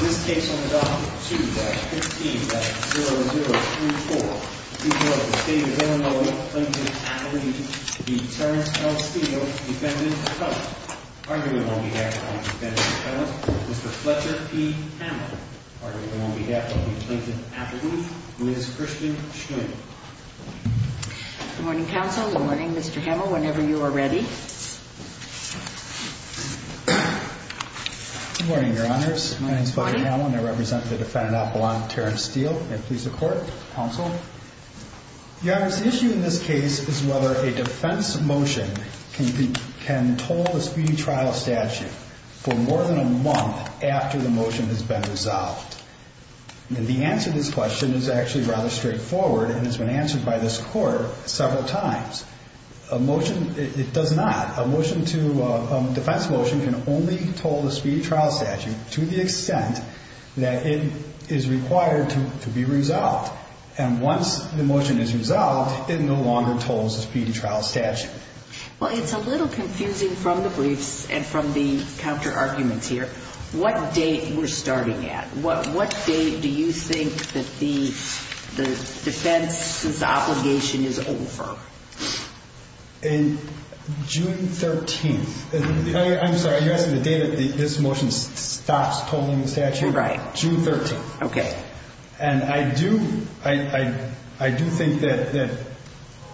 This case on the docket 2-15-0034 Before the State of Illinois, Plainton, Appaloosa The Terrence L. Steel Defendant's Cousin Arguing on behalf of the Defendant's Cousin Mr. Fletcher P. Hamill Arguing on behalf of the Plainton, Appaloosa Ms. Christian Schwing Good morning, Counsel. Good morning, Mr. Hamill. Whenever you are ready. Good morning, Your Honors. My name is Fletcher Hamill and I represent the Defendant Appaloosa, Terrence Steel. And please, the Court. Counsel. Your Honor, the issue in this case is whether a defense motion can toll the speedy trial statute for more than a month after the motion has been resolved. The answer to this question is actually rather straightforward and has been answered by this Court several times. A motion, it does not. A motion to, a defense motion can only toll the speedy trial statute to the extent that it is required to be resolved. And once the motion is resolved, it no longer tolls the speedy trial statute. Well, it's a little confusing from the briefs and from the counter arguments here. What date we're starting at? What date do you think that the defense's obligation is over? June 13th. I'm sorry, you're asking the date that this motion stops tolling the statute? Right. June 13th. Okay. And I do, I do think that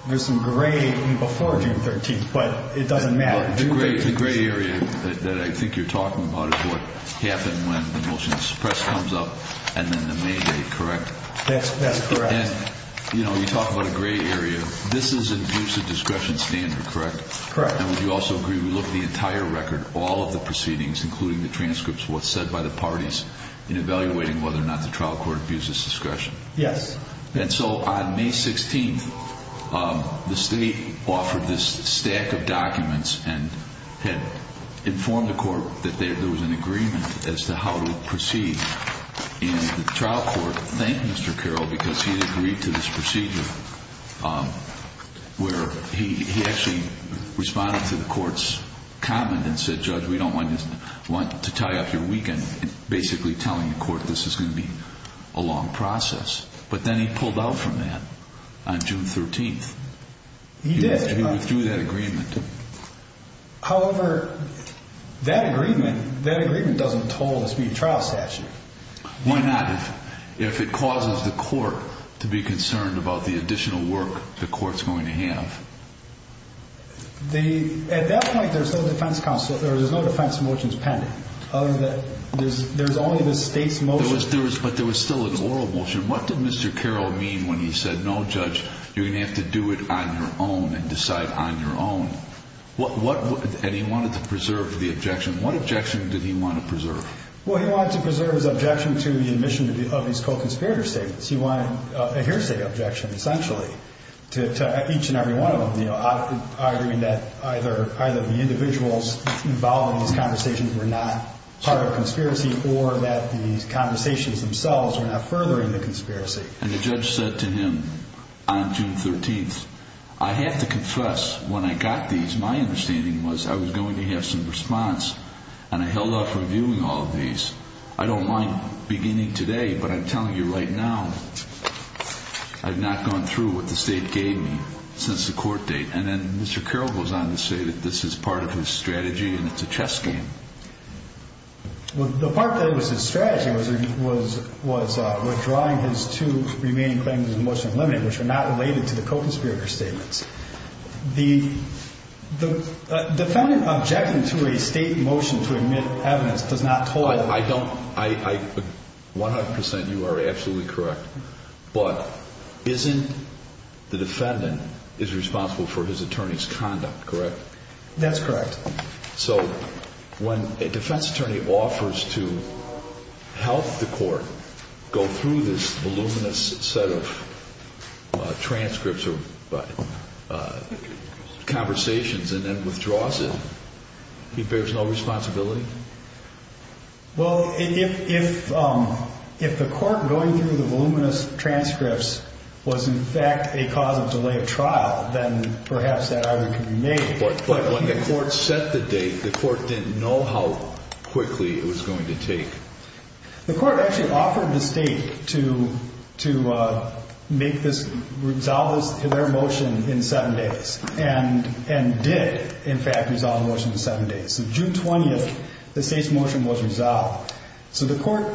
there's some gray before June 13th, but it doesn't matter. The gray area that I think you're talking about is what happened when the motion's press comes up and then the May date, correct? That's correct. And, you know, you talk about a gray area. This is an abuse of discretion standard, correct? Correct. And would you also agree we look at the entire record, all of the proceedings, including the transcripts, what's said by the parties, in evaluating whether or not the trial court abuses discretion? Yes. And so on May 16th, the state offered this stack of documents and had informed the court that there was an agreement as to how to proceed. And the trial court thanked Mr. Carroll because he had agreed to this procedure where he actually responded to the court's comment and said, Judge, we don't want to tie up your weekend, basically telling the court this is going to be a long process. But then he pulled out from that on June 13th. He did. He withdrew that agreement. However, that agreement, that agreement doesn't toll the speed trial statute. Why not if it causes the court to be concerned about the additional work the court's going to have? At that point, there's no defense motion pending, other than there's only the state's motion. But there was still an oral motion. What did Mr. Carroll mean when he said, no, Judge, you're going to have to do it on your own and decide on your own? And he wanted to preserve the objection. What objection did he want to preserve? Well, he wanted to preserve his objection to the admission of his co-conspirator statements. He wanted a hearsay objection, essentially, to each and every one of them, arguing that either the individuals involved in these conversations were not part of a conspiracy or that these conversations themselves were not furthering the conspiracy. And the judge said to him on June 13th, I have to confess, when I got these, my understanding was I was going to have some response, and I held off reviewing all of these. I don't mind beginning today, but I'm telling you right now, I've not gone through what the state gave me since the court date. And then Mr. Carroll goes on to say that this is part of his strategy and it's a chess game. Well, the part that was his strategy was withdrawing his two remaining claims of motion unlimited, which are not related to the co-conspirator statements. The defendant objecting to a state motion to admit evidence does not total. I don't. One hundred percent, you are absolutely correct. But isn't the defendant is responsible for his attorney's conduct, correct? That's correct. So when a defense attorney offers to help the court go through this voluminous set of transcripts or conversations and then withdraws it, he bears no responsibility? Well, if the court going through the voluminous transcripts was in fact a cause of delay of trial, then perhaps that argument can be made. But when the court set the date, the court didn't know how quickly it was going to take. The court actually offered the state to make this, resolve their motion in seven days and did, in fact, resolve the motion in seven days. So June 20th, the state's motion was resolved. So the court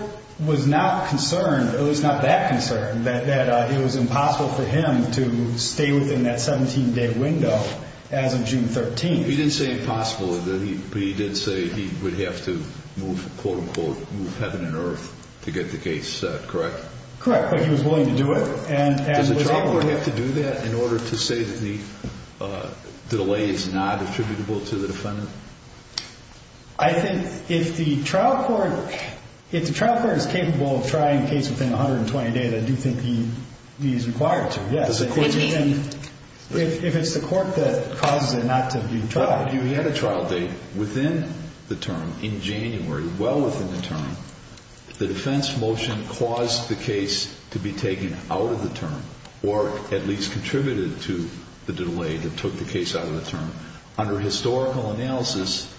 was not concerned, at least not that concerned, that it was impossible for him to stay within that 17-day window as of June 13th. He didn't say impossible, but he did say he would have to move, quote-unquote, move heaven and earth to get the case set, correct? Correct, but he was willing to do it. Does the trial court have to do that in order to say that the delay is not attributable to the defendant? I think if the trial court is capable of trying a case within 120 days, I do think he is required to. If it's the court that causes it not to be tried. He had a trial date within the term, in January, well within the term. The defense motion caused the case to be taken out of the term or at least contributed to the delay that took the case out of the term. Under historical analysis,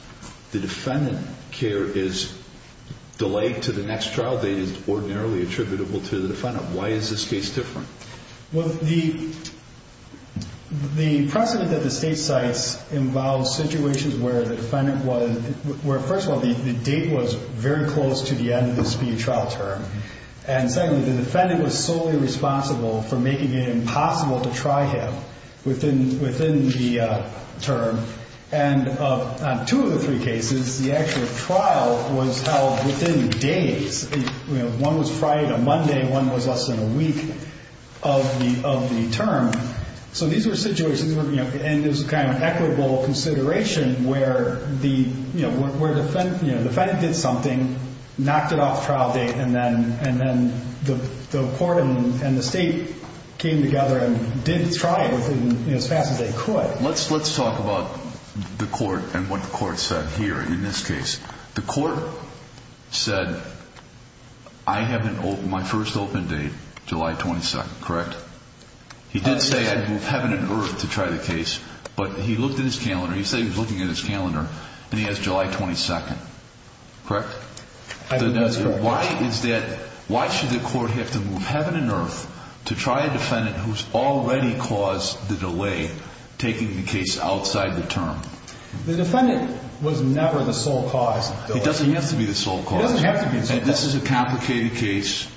the defendant care is delayed to the next trial date is ordinarily attributable to the defendant. Why is this case different? Well, the precedent that the state cites involves situations where the defendant was, where first of all, the date was very close to the end of the speed trial term. And secondly, the defendant was solely responsible for making it impossible to try him within the term. And on two of the three cases, the actual trial was held within days. One was Friday to Monday. One was less than a week of the term. So these were situations, and there's a kind of equitable consideration, where the defendant did something, knocked it off the trial date, and then the court and the state came together and did try it as fast as they could. Let's talk about the court and what the court said here in this case. The court said, I have my first open date July 22nd, correct? He did say I'd move heaven and earth to try the case, but he looked at his calendar. He said he was looking at his calendar, and he has July 22nd, correct? Heaven and earth. Why is that? Why should the court have to move heaven and earth to try a defendant who's already caused the delay taking the case outside the term? The defendant was never the sole cause. It doesn't have to be the sole cause. It doesn't have to be the sole cause. And this is a complicated case,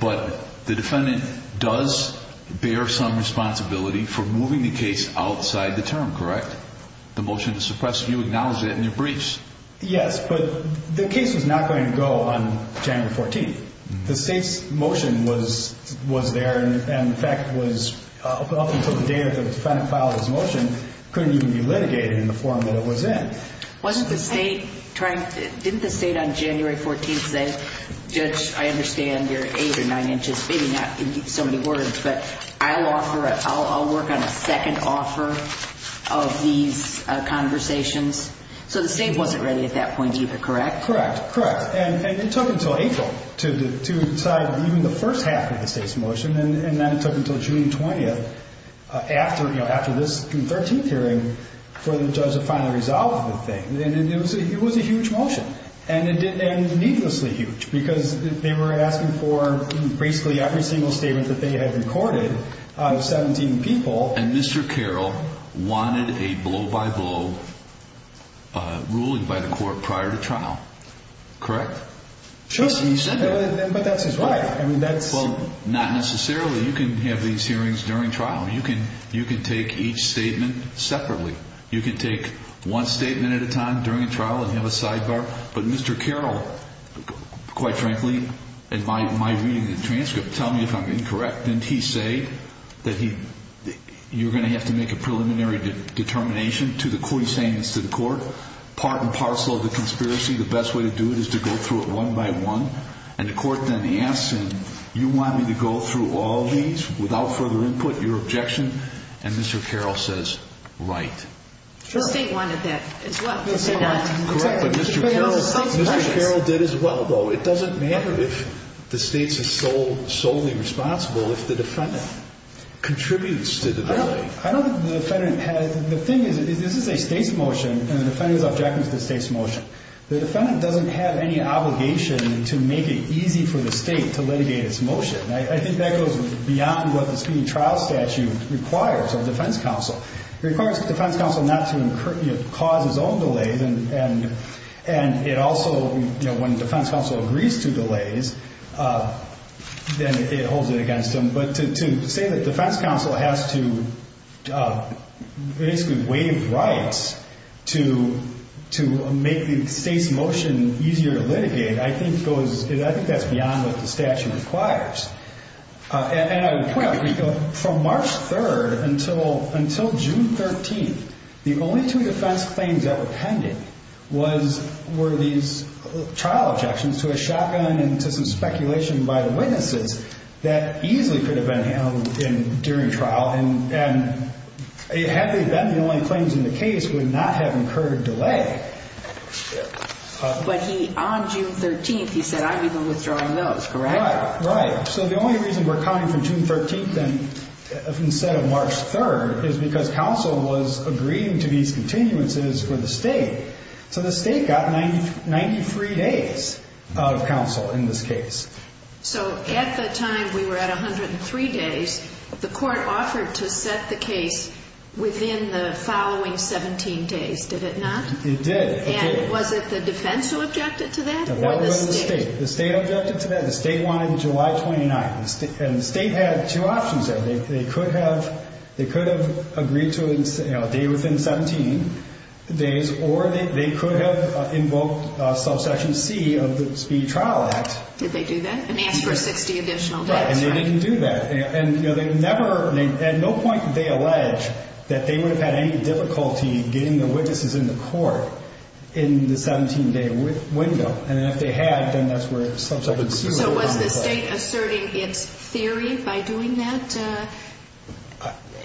but the defendant does bear some responsibility for moving the case outside the term, correct? The motion to suppress you acknowledged that in your briefs. Yes, but the case was not going to go on January 14th. The state's motion was there, and in fact, up until the day that the defendant filed his motion, it couldn't even be litigated in the form that it was in. Didn't the state on January 14th say, Judge, I understand you're 8 or 9 inches, maybe not in so many words, but I'll work on a second offer of these conversations? So the state wasn't ready at that point either, correct? Correct, correct. And it took until April to decide even the first half of the state's motion, and that took until June 20th after this June 13th hearing for the judge to finally resolve the thing. And it was a huge motion, and needlessly huge, because they were asking for basically every single statement that they had recorded out of 17 people. And Mr. Carroll wanted a blow-by-blow ruling by the court prior to trial, correct? He said that, but that's his right. Well, not necessarily. You can have these hearings during trial. You can take each statement separately. You can take one statement at a time during a trial and have a sidebar. But Mr. Carroll, quite frankly, in my reading of the transcript, tell me if I'm incorrect, didn't he say that you're going to have to make a preliminary determination to the court, he's saying this to the court, part and parcel of the conspiracy. The best way to do it is to go through it one by one. And the court then asks him, you want me to go through all these without further input, your objection? And Mr. Carroll says, right. The state wanted that as well. Correct, but Mr. Carroll did as well, though. It doesn't matter if the state's solely responsible if the defendant contributes to the delay. I don't think the defendant had it. The thing is, this is a state's motion, and the defendant's objecting to the state's motion. The defendant doesn't have any obligation to make it easy for the state to litigate its motion. I think that goes beyond what the speedy trial statute requires of defense counsel. It requires defense counsel not to cause its own delays, and it also, you know, when defense counsel agrees to delays, then it holds it against them. But to say that defense counsel has to basically waive rights to make the state's motion easier to litigate, I think that's beyond what the statute requires. And I would point out that from March 3rd until June 13th, the only two defense claims that were pending were these trial objections to a shotgun and to some speculation by the witnesses that easily could have been handled during trial. And had they been, the only claims in the case would not have incurred a delay. But he, on June 13th, he said, I'm even withdrawing those, correct? Right, right. So the only reason we're counting from June 13th instead of March 3rd is because counsel was agreeing to these continuances for the state. So the state got 93 days of counsel in this case. So at the time we were at 103 days, the court offered to set the case within the following 17 days, did it not? It did. And was it the defense who objected to that or the state? That was the state. The state objected to that. The state wanted July 29th, and the state had two options there. They could have agreed to it a day within 17 days, or they could have invoked Subsection C of the Speed Trial Act. Did they do that and ask for 60 additional days? Right, and they didn't do that. And at no point did they allege that they would have had any difficulty getting the witnesses in the court in the 17-day window. So was the state asserting its theory by doing that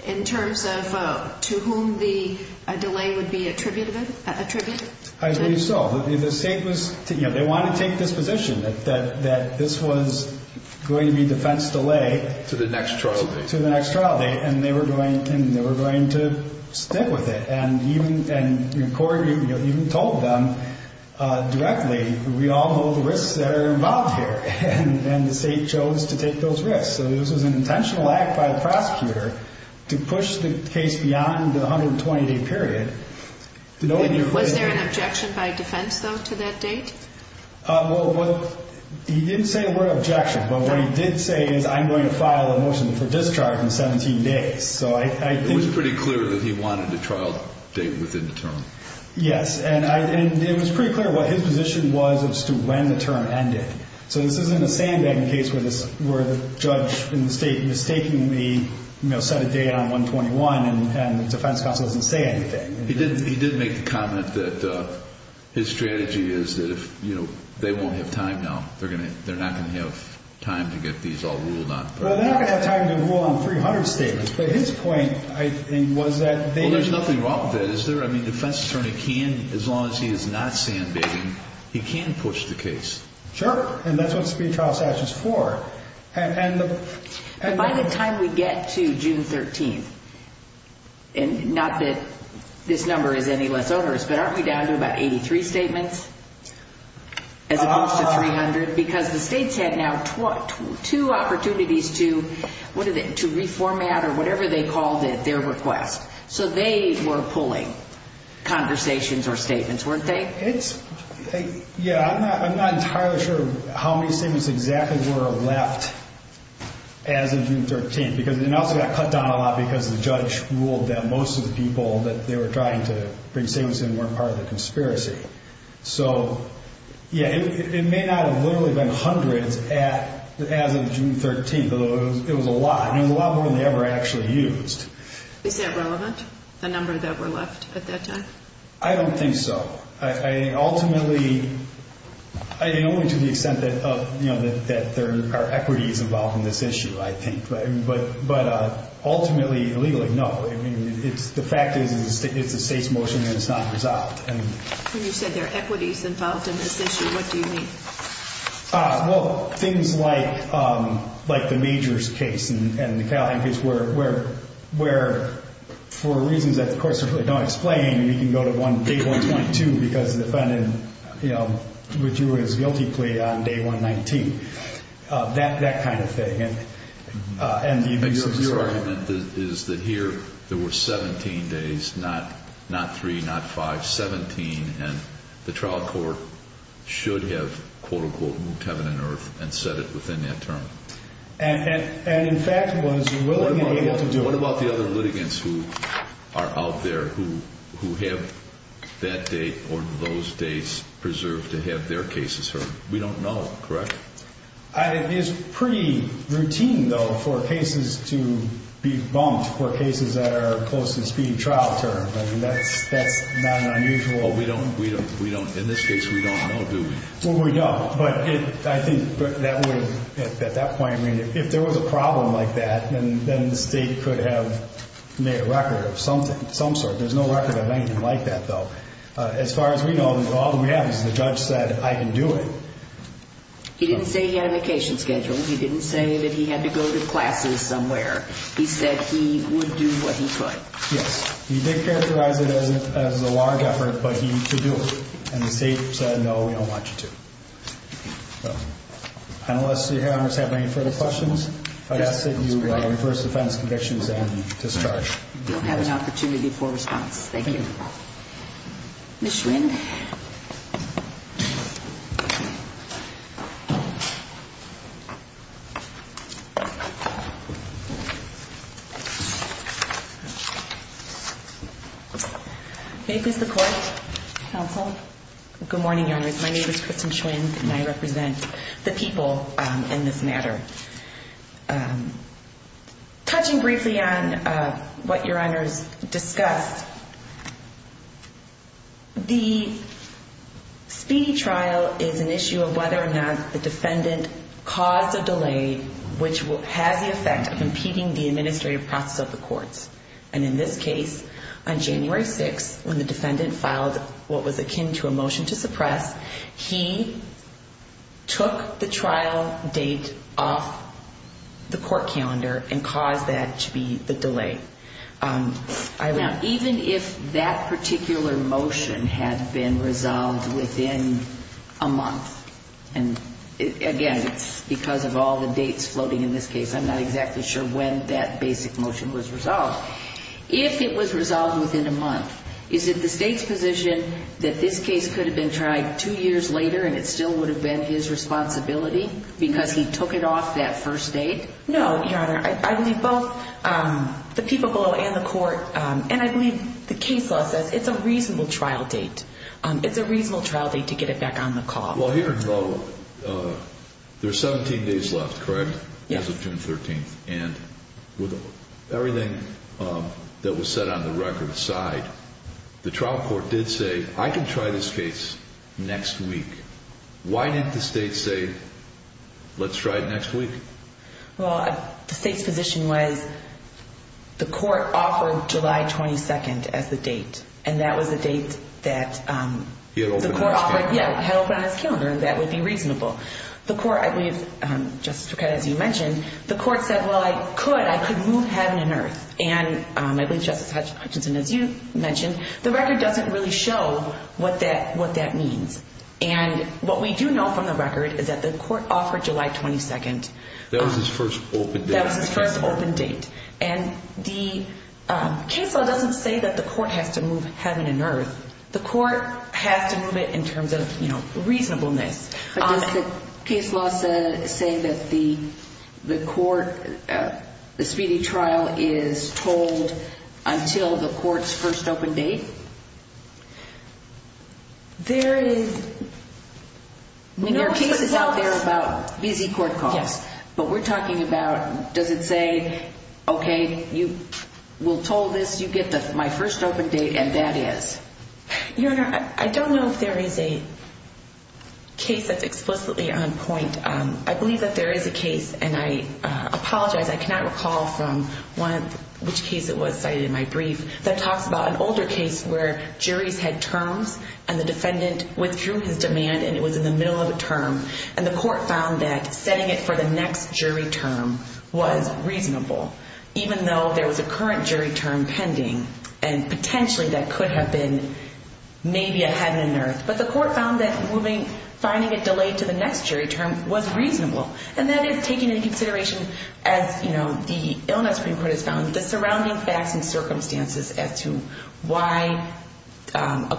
in terms of to whom the delay would be attributed? I believe so. The state was, you know, they wanted to take this position that this was going to be defense delay. To the next trial date. To the next trial date, and they were going to stick with it. And the court even told them directly, we all know the risks that are involved here, and the state chose to take those risks. So this was an intentional act by the prosecutor to push the case beyond the 120-day period. Was there an objection by defense, though, to that date? Well, he didn't say the word objection, but what he did say is I'm going to file a motion for discharge in 17 days. It was pretty clear that he wanted a trial date within the term. Yes, and it was pretty clear what his position was as to when the term ended. So this isn't a sandbagging case where the judge in the state mistakenly set a date on 121 and the defense counsel doesn't say anything. He did make the comment that his strategy is that if they won't have time now, they're not going to have time to get these all ruled on. Well, they ought to have time to rule on 300 statements, but his point, I think, was that they didn't. There's nothing wrong with it, is there? I mean, the defense attorney can, as long as he is not sandbagging, he can push the case. Sure, and that's what speed trial statute is for. By the time we get to June 13th, and not that this number is any less onerous, but aren't we down to about 83 statements as opposed to 300? Because the states had now two opportunities to reformat or whatever they called it, their request. So they were pulling conversations or statements, weren't they? Yeah, I'm not entirely sure how many statements exactly were left as of June 13th. And it also got cut down a lot because the judge ruled that most of the people that they were trying to bring statements in weren't part of the conspiracy. So, yeah, it may not have literally been hundreds as of June 13th, but it was a lot, and it was a lot more than they ever actually used. Is that relevant, the number that were left at that time? I don't think so. Ultimately, only to the extent that there are equities involved in this issue, I think. But ultimately, legally, no. The fact is it's a state's motion and it's not resolved. When you say there are equities involved in this issue, what do you mean? Well, things like the Majors case and the Calhoun case, where for reasons that the court certainly don't explain, we can go to day 122 because the defendant withdrew his guilty plea on day 119. That kind of thing. The argument is that here there were 17 days, not 3, not 5, 17, and the trial court should have, quote-unquote, moved heaven and earth and set it within that term. And, in fact, was willing and able to do it. What about the other litigants who are out there, who have that date or those dates preserved to have their cases heard? We don't know, correct? It is pretty routine, though, for cases to be bumped or cases that are close to the speed of trial term. That's not unusual. In this case, we don't know, do we? Well, we don't. But I think at that point, if there was a problem like that, then the state could have made a record of some sort. There's no record of anything like that, though. As far as we know, all that we have is the judge said, I can do it. He didn't say he had a vacation schedule. He didn't say that he had to go to classes somewhere. He said he would do what he could. Yes. He did characterize it as a large effort, but he could do it. And the state said, no, we don't want you to. So, panelists, do you have any further questions? If I could ask that you reverse defense convictions and discharge. We'll have an opportunity for a response. Thank you. Ms. Schwinn. May it please the Court. Counsel. Good morning, Your Honors. My name is Kristen Schwinn, and I represent the people in this matter. Touching briefly on what Your Honors discussed, the speedy trial is an issue of whether or not the defendant caused a delay, which has the effect of impeding the administrative process of the courts. And in this case, on January 6th, when the defendant filed what was akin to a motion to suppress, he took the trial date off the court calendar and caused that to be the delay. Now, even if that particular motion had been resolved within a month, and, again, it's because of all the dates floating in this case, I'm not exactly sure when that basic motion was resolved. If it was resolved within a month, is it the State's position that this case could have been tried two years later and it still would have been his responsibility because he took it off that first date? No, Your Honor. I believe both the people below and the Court, and I believe the case law says it's a reasonable trial date. It's a reasonable trial date to get it back on the call. Well, here in Delaware, there's 17 days left, correct? Yes. As of June 13th. And with everything that was set on the record aside, the trial court did say, I can try this case next week. Why didn't the State say, let's try it next week? Well, the State's position was the court offered July 22nd as the date, and that was the date that the court offered. He had opened on his calendar. Yeah, he had opened on his calendar, and that would be reasonable. The court, I believe, Justice Buchheit, as you mentioned, the court said, well, I could, I could move heaven and earth. And I believe Justice Hutchinson, as you mentioned, the record doesn't really show what that means. And what we do know from the record is that the court offered July 22nd. That was his first open date. That was his first open date. And the case law doesn't say that the court has to move heaven and earth. The court has to move it in terms of reasonableness. But does the case law say that the court, the speedy trial, is told until the court's first open date? There is, no. There are cases out there about busy court calls. Yes. But we're talking about, does it say, okay, you will toll this, you get my first open date, and that is? Your Honor, I don't know if there is a case that's explicitly on point. I believe that there is a case, and I apologize, I cannot recall from which case it was cited in my brief, that talks about an older case where juries had terms and the defendant withdrew his demand and it was in the middle of a term. And the court found that setting it for the next jury term was reasonable, even though there was a current jury term pending. And potentially that could have been maybe a heaven and earth. But the court found that finding it delayed to the next jury term was reasonable. And that is taking into consideration, as the Illinois Supreme Court has found, the surrounding facts and circumstances as to why a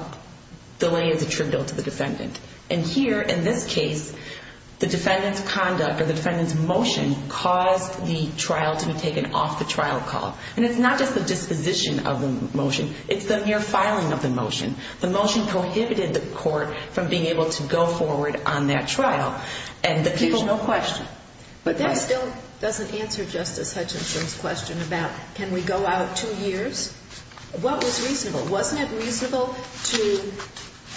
delay is a true bill to the defendant. And here, in this case, the defendant's conduct or the defendant's motion caused the trial to be taken off the trial call. And it's not just the disposition of the motion, it's the mere filing of the motion. The motion prohibited the court from being able to go forward on that trial. And there's no question. But that still doesn't answer Justice Hutchinson's question about can we go out two years? What was reasonable? Wasn't it reasonable to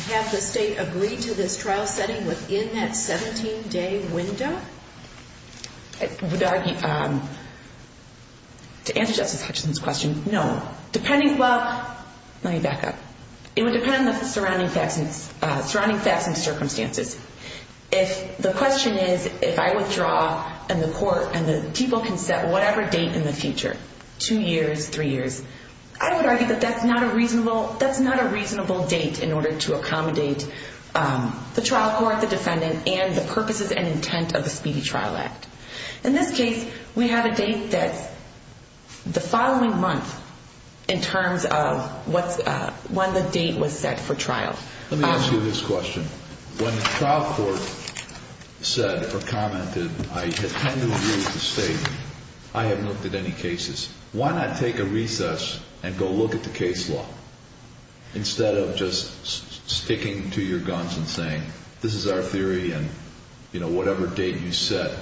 have the state agree to this trial setting within that 17-day window? I would argue, to answer Justice Hutchinson's question, no. Depending, well, let me back up. It would depend on the surrounding facts and circumstances. If the question is, if I withdraw and the court and the people can set whatever date in the future, two years, three years, I would argue that that's not a reasonable date in order to accommodate the trial court, the defendant, and the purposes and intent of the Speedy Trial Act. In this case, we have a date that's the following month in terms of when the date was set for trial. Let me ask you this question. When the trial court said or commented, I intend to review the state, I haven't looked at any cases. Why not take a recess and go look at the case law instead of just sticking to your guns and saying this is our theory and, you know, whatever date you set,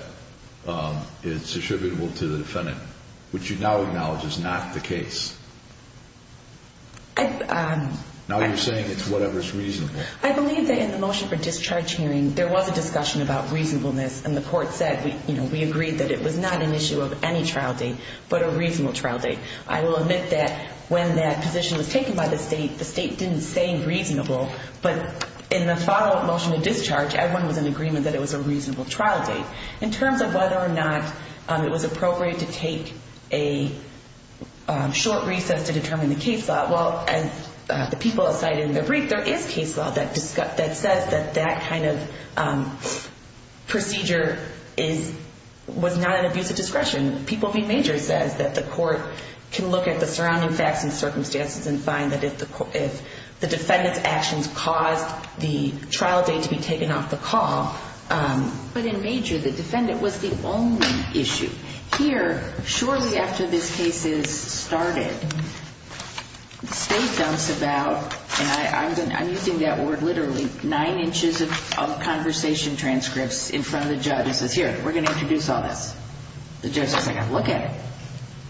it's attributable to the defendant, which you now acknowledge is not the case. Now you're saying it's whatever's reasonable. I believe that in the motion for discharge hearing, there was a discussion about reasonableness, and the court said, you know, we agreed that it was not an issue of any trial date but a reasonable trial date. I will admit that when that position was taken by the state, the state didn't say reasonable, but in the follow-up motion to discharge, everyone was in agreement that it was a reasonable trial date. In terms of whether or not it was appropriate to take a short recess to determine the case law, well, as the people cited in the brief, there is case law that says that that kind of procedure was not an abuse of discretion. People v. Major says that the court can look at the surrounding facts and circumstances and find that if the defendant's actions caused the trial date to be taken off the call. But in Major, the defendant was the only issue. Here, shortly after this case is started, the state dumps about, and I'm using that word literally, of conversation transcripts in front of the judge who says, here, we're going to introduce all this. The judge says, I've got to look at it.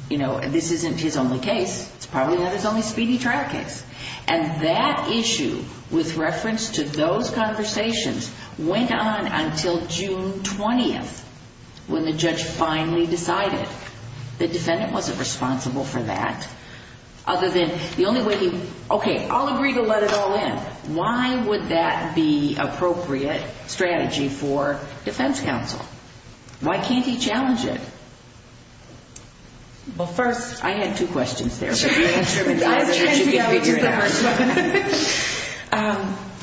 You know, this isn't his only case. It's probably not his only speedy trial case. And that issue, with reference to those conversations, went on until June 20th, when the judge finally decided. The defendant wasn't responsible for that, other than the only way he, okay, I'll agree to let it all in. But why would that be appropriate strategy for defense counsel? Why can't he challenge it? Well, first, I had two questions there. The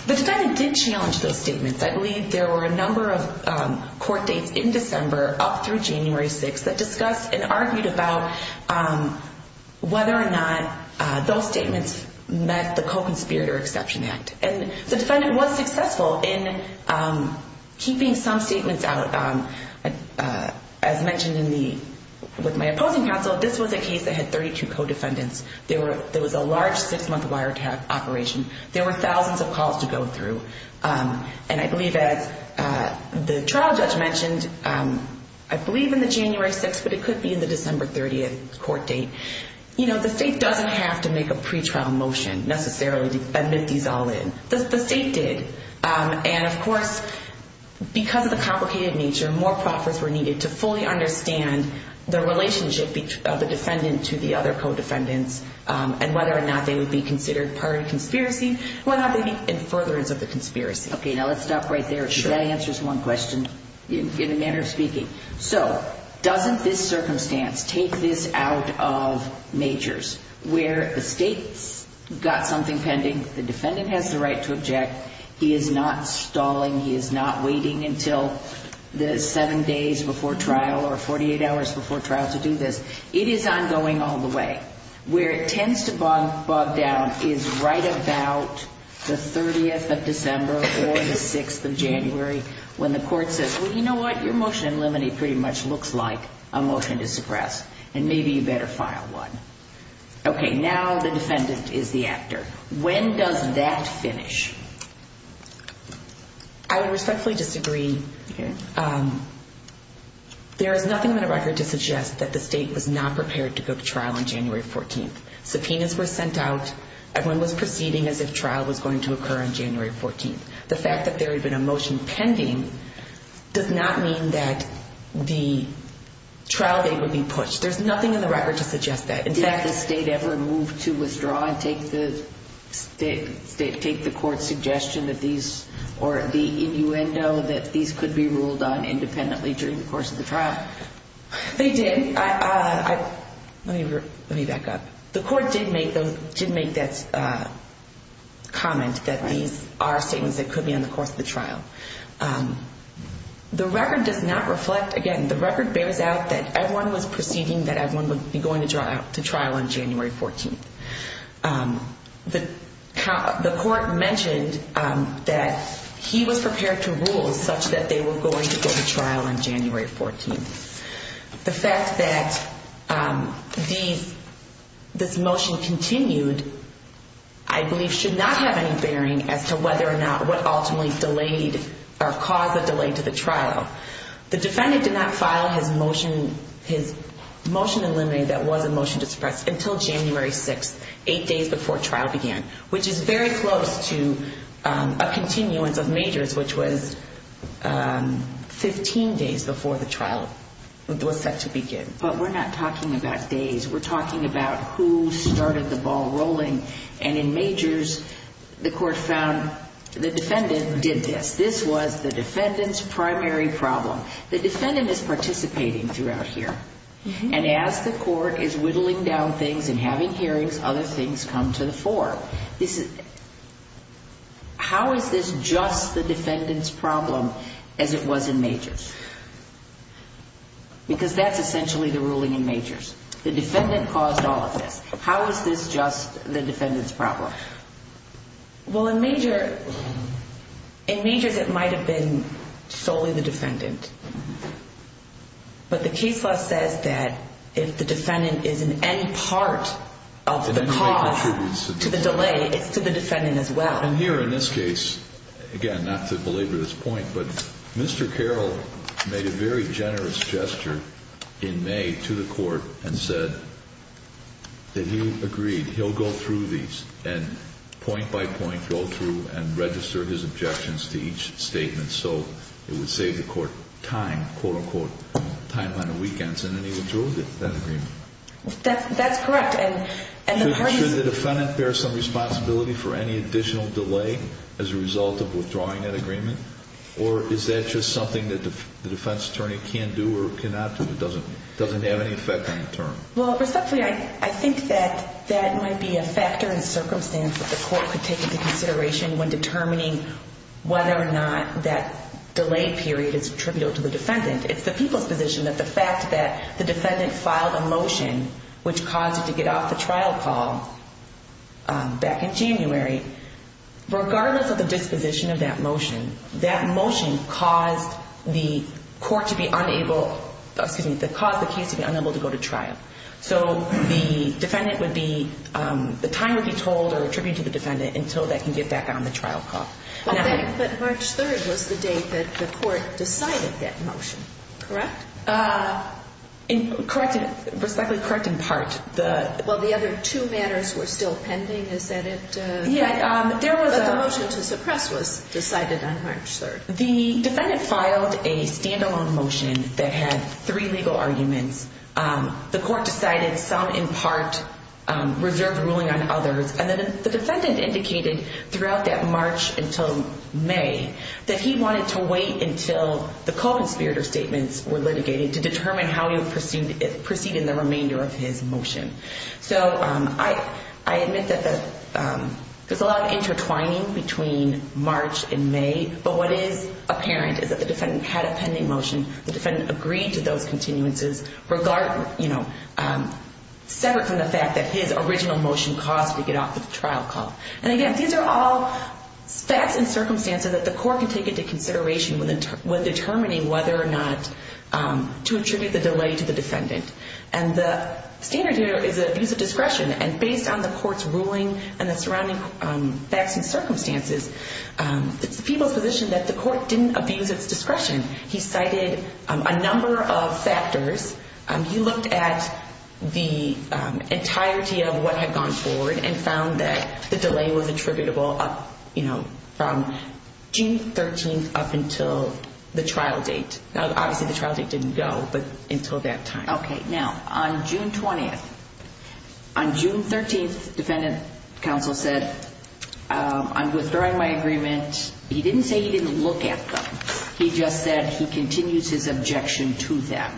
defendant did challenge those statements. I believe there were a number of court dates in December, up through January 6th, that discussed and argued about whether or not those statements met the Co-Conspirator Exception Act. And the defendant was successful in keeping some statements out. As mentioned with my opposing counsel, this was a case that had 32 co-defendants. There was a large six-month wiretap operation. There were thousands of calls to go through. And I believe, as the trial judge mentioned, I believe in the January 6th, but it could be in the December 30th court date. You know, the state doesn't have to make a pretrial motion, necessarily, to admit these all in. The state did. And, of course, because of the complicated nature, more proffers were needed to fully understand the relationship of the defendant to the other co-defendants, and whether or not they would be considered part of the conspiracy, or whether or not they would be in furtherance of the conspiracy. Okay, now let's stop right there. That answers one question, in a manner of speaking. So, doesn't this circumstance take this out of majors, where the state's got something pending, the defendant has the right to object, he is not stalling, he is not waiting until the seven days before trial or 48 hours before trial to do this. It is ongoing all the way. Where it tends to bog down is right about the 30th of December or the 6th of January, when the court says, well, you know what, your motion in limine pretty much looks like a motion to suppress, and maybe you better file one. Okay, now the defendant is the actor. When does that finish? I would respectfully disagree. There is nothing in the record to suggest that the state was not prepared to book trial on January 14th. Subpoenas were sent out. Everyone was proceeding as if trial was going to occur on January 14th. The fact that there had been a motion pending does not mean that the trial date would be pushed. There's nothing in the record to suggest that. Did the state ever move to withdraw and take the court's suggestion that these, or the innuendo, that these could be ruled on independently during the course of the trial? They did. Let me back up. The court did make that comment that these are statements that could be on the course of the trial. The record does not reflect, again, the record bears out that everyone was proceeding, that everyone would be going to trial on January 14th. The court mentioned that he was prepared to rule such that they were going to go to trial on January 14th. The fact that this motion continued, I believe, should not have any bearing as to whether or not what ultimately delayed or caused the delay to the trial. The defendant did not file his motion in limine that was a motion to suppress until January 6th, eight days before trial began, which is very close to a continuance of Majors, which was 15 days before the trial was set to begin. But we're not talking about days. We're talking about who started the ball rolling. And in Majors, the court found the defendant did this. This was the defendant's primary problem. The defendant is participating throughout here. And as the court is whittling down things and having hearings, other things come to the fore. How is this just the defendant's problem as it was in Majors? Because that's essentially the ruling in Majors. The defendant caused all of this. How is this just the defendant's problem? Well, in Majors, it might have been solely the defendant. But the case law says that if the defendant is an end part of the cause to the delay, it's to the defendant as well. And here in this case, again, not to belabor this point, but Mr. Carroll made a very generous gesture in May to the court and said that he agreed he'll go through these, and point by point go through and register his objections to each statement so it would save the court time, quote-unquote, time on the weekends. And then he withdrew that agreement. That's correct. And the parties— Should the defendant bear some responsibility for any additional delay as a result of withdrawing that agreement? Or is that just something that the defense attorney can do or cannot do? It doesn't have any effect on the term. Well, respectfully, I think that that might be a factor in circumstance that the court could take into consideration when determining whether or not that delay period is attributable to the defendant. It's the people's position that the fact that the defendant filed a motion which caused it to get off the trial call back in January, regardless of the disposition of that motion, that motion caused the court to be unable— excuse me, that caused the case to be unable to go to trial. So the defendant would be—the time would be told or attributed to the defendant until they can get back on the trial call. But March 3rd was the date that the court decided that motion, correct? Correct in—respectfully, correct in part. Well, the other two matters were still pending. Yeah, there was a— But the motion to suppress was decided on March 3rd. The defendant filed a standalone motion that had three legal arguments. The court decided some in part reserved ruling on others. And then the defendant indicated throughout that March until May that he wanted to wait until the co-conspirator statements were litigated to determine how he would proceed in the remainder of his motion. So I admit that there's a lot of intertwining between March and May, but what is apparent is that the defendant had a pending motion. The defendant agreed to those continuances, separate from the fact that his original motion caused it to get off the trial call. And again, these are all facts and circumstances that the court can take into consideration when determining whether or not to attribute the delay to the defendant. And the standard here is abuse of discretion. And based on the court's ruling and the surrounding facts and circumstances, it's the people's position that the court didn't abuse its discretion. He cited a number of factors. He looked at the entirety of what had gone forward and found that the delay was attributable from June 13th up until the trial date. Obviously, the trial date didn't go, but until that time. Okay. Now, on June 20th, on June 13th, defendant counsel said, I'm withdrawing my agreement. He didn't say he didn't look at them. He just said he continues his objection to them.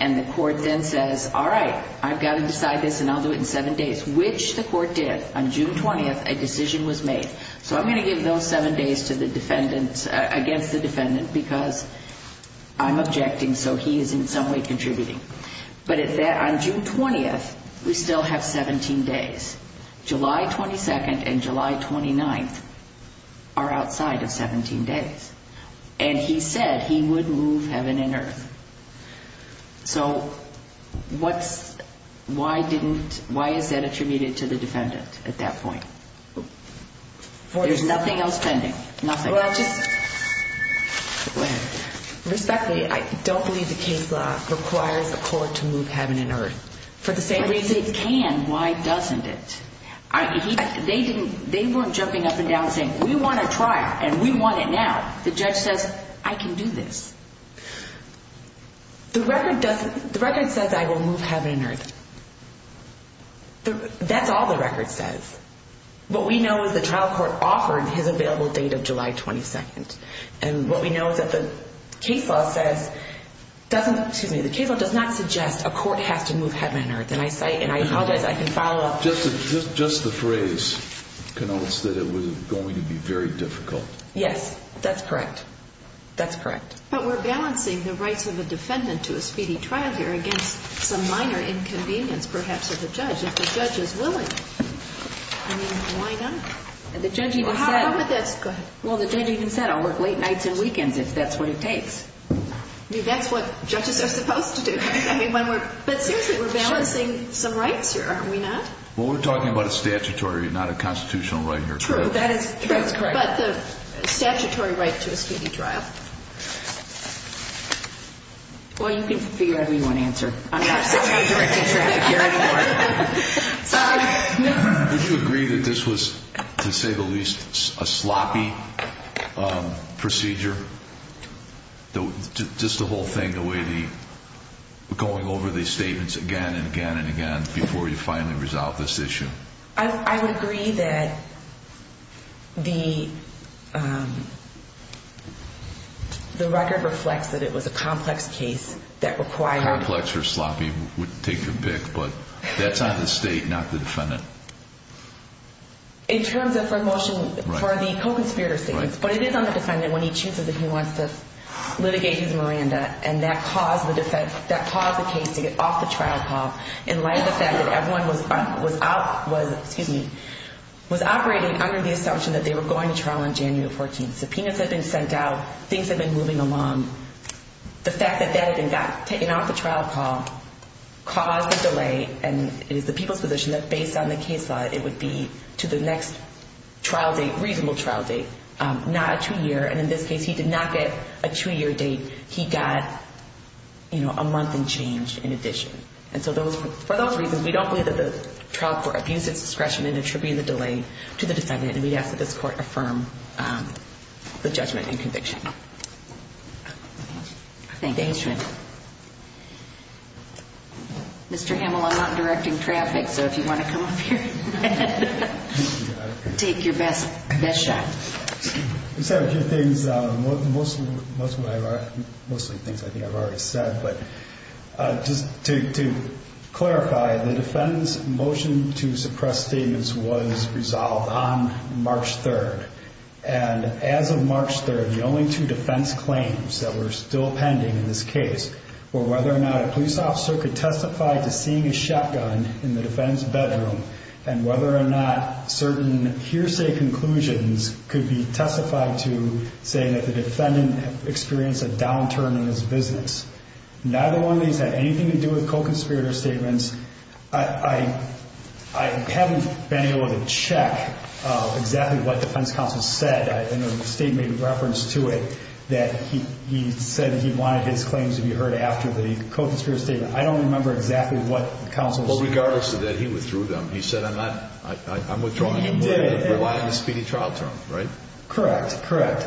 And the court then says, all right, I've got to decide this and I'll do it in seven days, which the court did. On June 20th, a decision was made. So I'm going to give those seven days to the defendant, against the defendant, because I'm objecting so he is in some way contributing. But on June 20th, we still have 17 days. July 22nd and July 29th are outside of 17 days. And he said he would move heaven and earth. So why is that attributed to the defendant at that point? There's nothing else pending. Nothing. Respectfully, I don't believe the case law requires a court to move heaven and earth. If it can, why doesn't it? They weren't jumping up and down and saying, we want a trial and we want it now. The judge says, I can do this. The record says I will move heaven and earth. That's all the record says. What we know is the trial court offered his available date of July 22nd. And what we know is that the case law says, doesn't, excuse me, the case law does not suggest a court has to move heaven and earth. And I cite, and I apologize, I can follow up. Just the phrase connotes that it was going to be very difficult. Yes, that's correct. That's correct. But we're balancing the rights of the defendant to a speedy trial here against some minor inconvenience, perhaps, of the judge, if the judge is willing. I mean, why not? Well, how about this? Go ahead. Well, the judge even said, I'll work late nights and weekends if that's what it takes. That's what judges are supposed to do. But seriously, we're balancing some rights here, are we not? Well, we're talking about a statutory, not a constitutional right here. True. That's correct. Well, you can figure out who you want to answer. I'm sorry. Sorry. Would you agree that this was, to say the least, a sloppy procedure? Just the whole thing, the way the going over these statements again and again and again before you finally resolve this issue? I would agree that the record reflects that it was a complex case that required Complex or sloppy would take a pick, but that's on the state, not the defendant. In terms of promotion for the co-conspirator statements, but it is on the defendant when he chooses if he wants to litigate his Miranda, and that caused the case to get off the trial call in light of the fact that everyone was operating under the assumption that they were going to trial on January 14th. Subpoenas had been sent out. Things had been moving along. The fact that that had been taken off the trial call caused a delay, and it is the people's position that based on the case law, it would be to the next reasonable trial date, not a two-year. And in this case, he did not get a two-year date. He got a month and change in addition. And so for those reasons, we don't believe that the trial court abused its discretion in attributing the delay to the defendant, and we ask that this court affirm the judgment and conviction. Thank you. Mr. Hamill, I'm not directing traffic, so if you want to come up here and take your best shot. I just have a few things. Most of the things I think I've already said, but just to clarify, the defendant's motion to suppress statements was resolved on March 3rd. And as of March 3rd, the only two defense claims that were still pending in this case were whether or not a police officer could testify to seeing a shotgun in the defendant's bedroom and whether or not certain hearsay conclusions could be testified to saying that the defendant experienced a downturn in his business. Neither one of these had anything to do with co-conspirator statements. I haven't been able to check exactly what the defense counsel said. I know the state made reference to it, that he said he wanted his claims to be heard after the co-conspirator statement. I don't remember exactly what the counsel said. Well, regardless of that, he withdrew them. He said, I'm withdrawing them. He did. Relying on a speedy trial term, right? Correct, correct.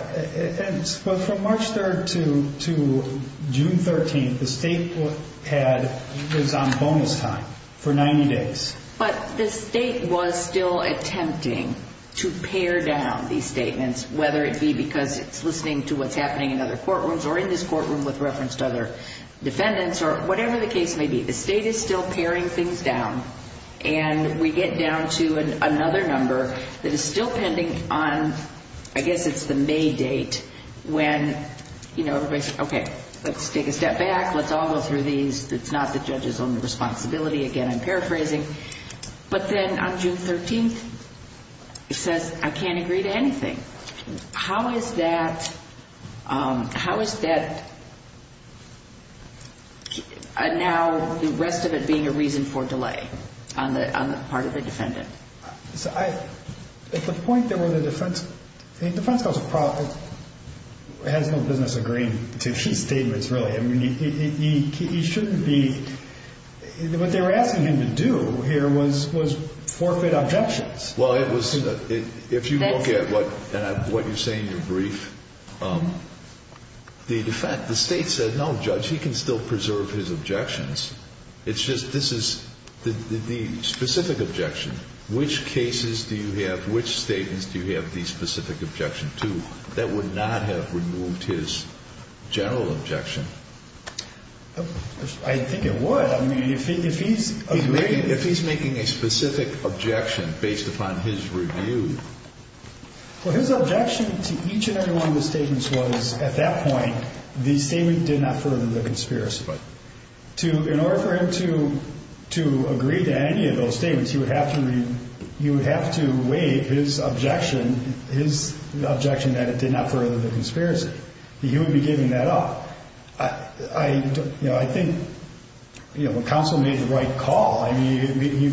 From March 3rd to June 13th, the state was on bonus time for 90 days. But the state was still attempting to pare down these statements, whether it be because it's listening to what's happening in other courtrooms or in this courtroom with reference to other defendants or whatever the case may be. The state is still paring things down, and we get down to another number that is still pending on, I guess it's the May date, when everybody says, okay, let's take a step back. Let's all go through these. It's not the judge's own responsibility. Again, I'm paraphrasing. But then on June 13th, he says, I can't agree to anything. How is that now the rest of it being a reason for delay on the part of the defendant? At the point, the defense counsel has no business agreeing to his statements, really. I mean, he shouldn't be. What they were asking him to do here was forfeit objections. Well, if you look at what you say in your brief, the defense, the state said, no, Judge, he can still preserve his objections. It's just this is the specific objection. Which cases do you have, which statements do you have the specific objection to that would not have removed his general objection? I think it would. I mean, if he's making a specific objection based upon his review. Well, his objection to each and every one of the statements was, at that point, the statement did not further the conspiracy. In order for him to agree to any of those statements, you would have to weigh his objection that it did not further the conspiracy. He would be giving that up. I think counsel made the right call. I mean,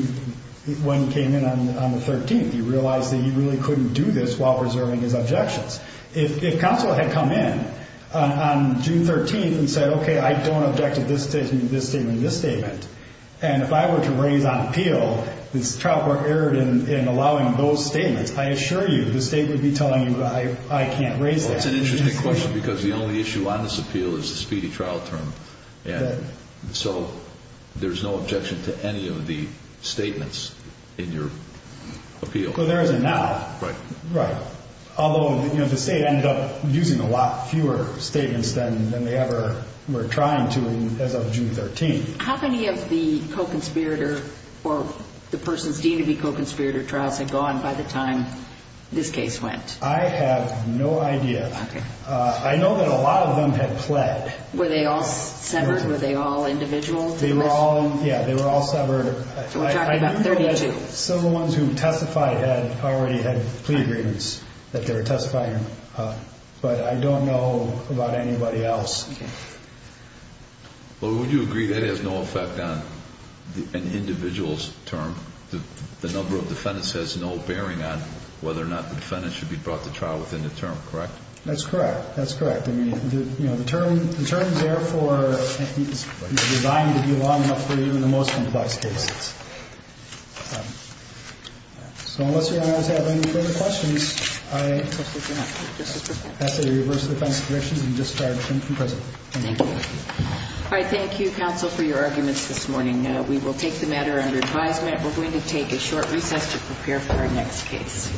when he came in on the 13th, he realized that he really couldn't do this while preserving his objections. If counsel had come in on June 13th and said, okay, I don't object to this statement, this statement, this statement, and if I were to raise on appeal this trial court error in allowing those statements, I assure you the state would be telling you I can't raise that. Well, it's an interesting question because the only issue on this appeal is the speedy trial term. And so there's no objection to any of the statements in your appeal. Well, there isn't now. Right. Although the state ended up using a lot fewer statements than they ever were trying to as of June 13th. How many of the co-conspirator or the person's deemed to be co-conspirator trials had gone by the time this case went? I have no idea. I know that a lot of them had pled. Were they all severed? Were they all individual? They were all severed. We're talking about 32. Some of the ones who testified had already had plea agreements that they were testifying, but I don't know about anybody else. Well, would you agree that has no effect on an individual's term? The number of defendants has no bearing on whether or not the defendant should be brought to trial within the term, correct? That's correct. That's correct. I mean, you know, the term is there for, I think, is designed to be long enough for you in the most complex cases. So unless Your Honor has any further questions, I ask that you reverse the defense's directions and discharge him from prison. Thank you. All right. Thank you, counsel, for your arguments this morning. We will take the matter under advisement. We're going to take a short recess to prepare for our next case.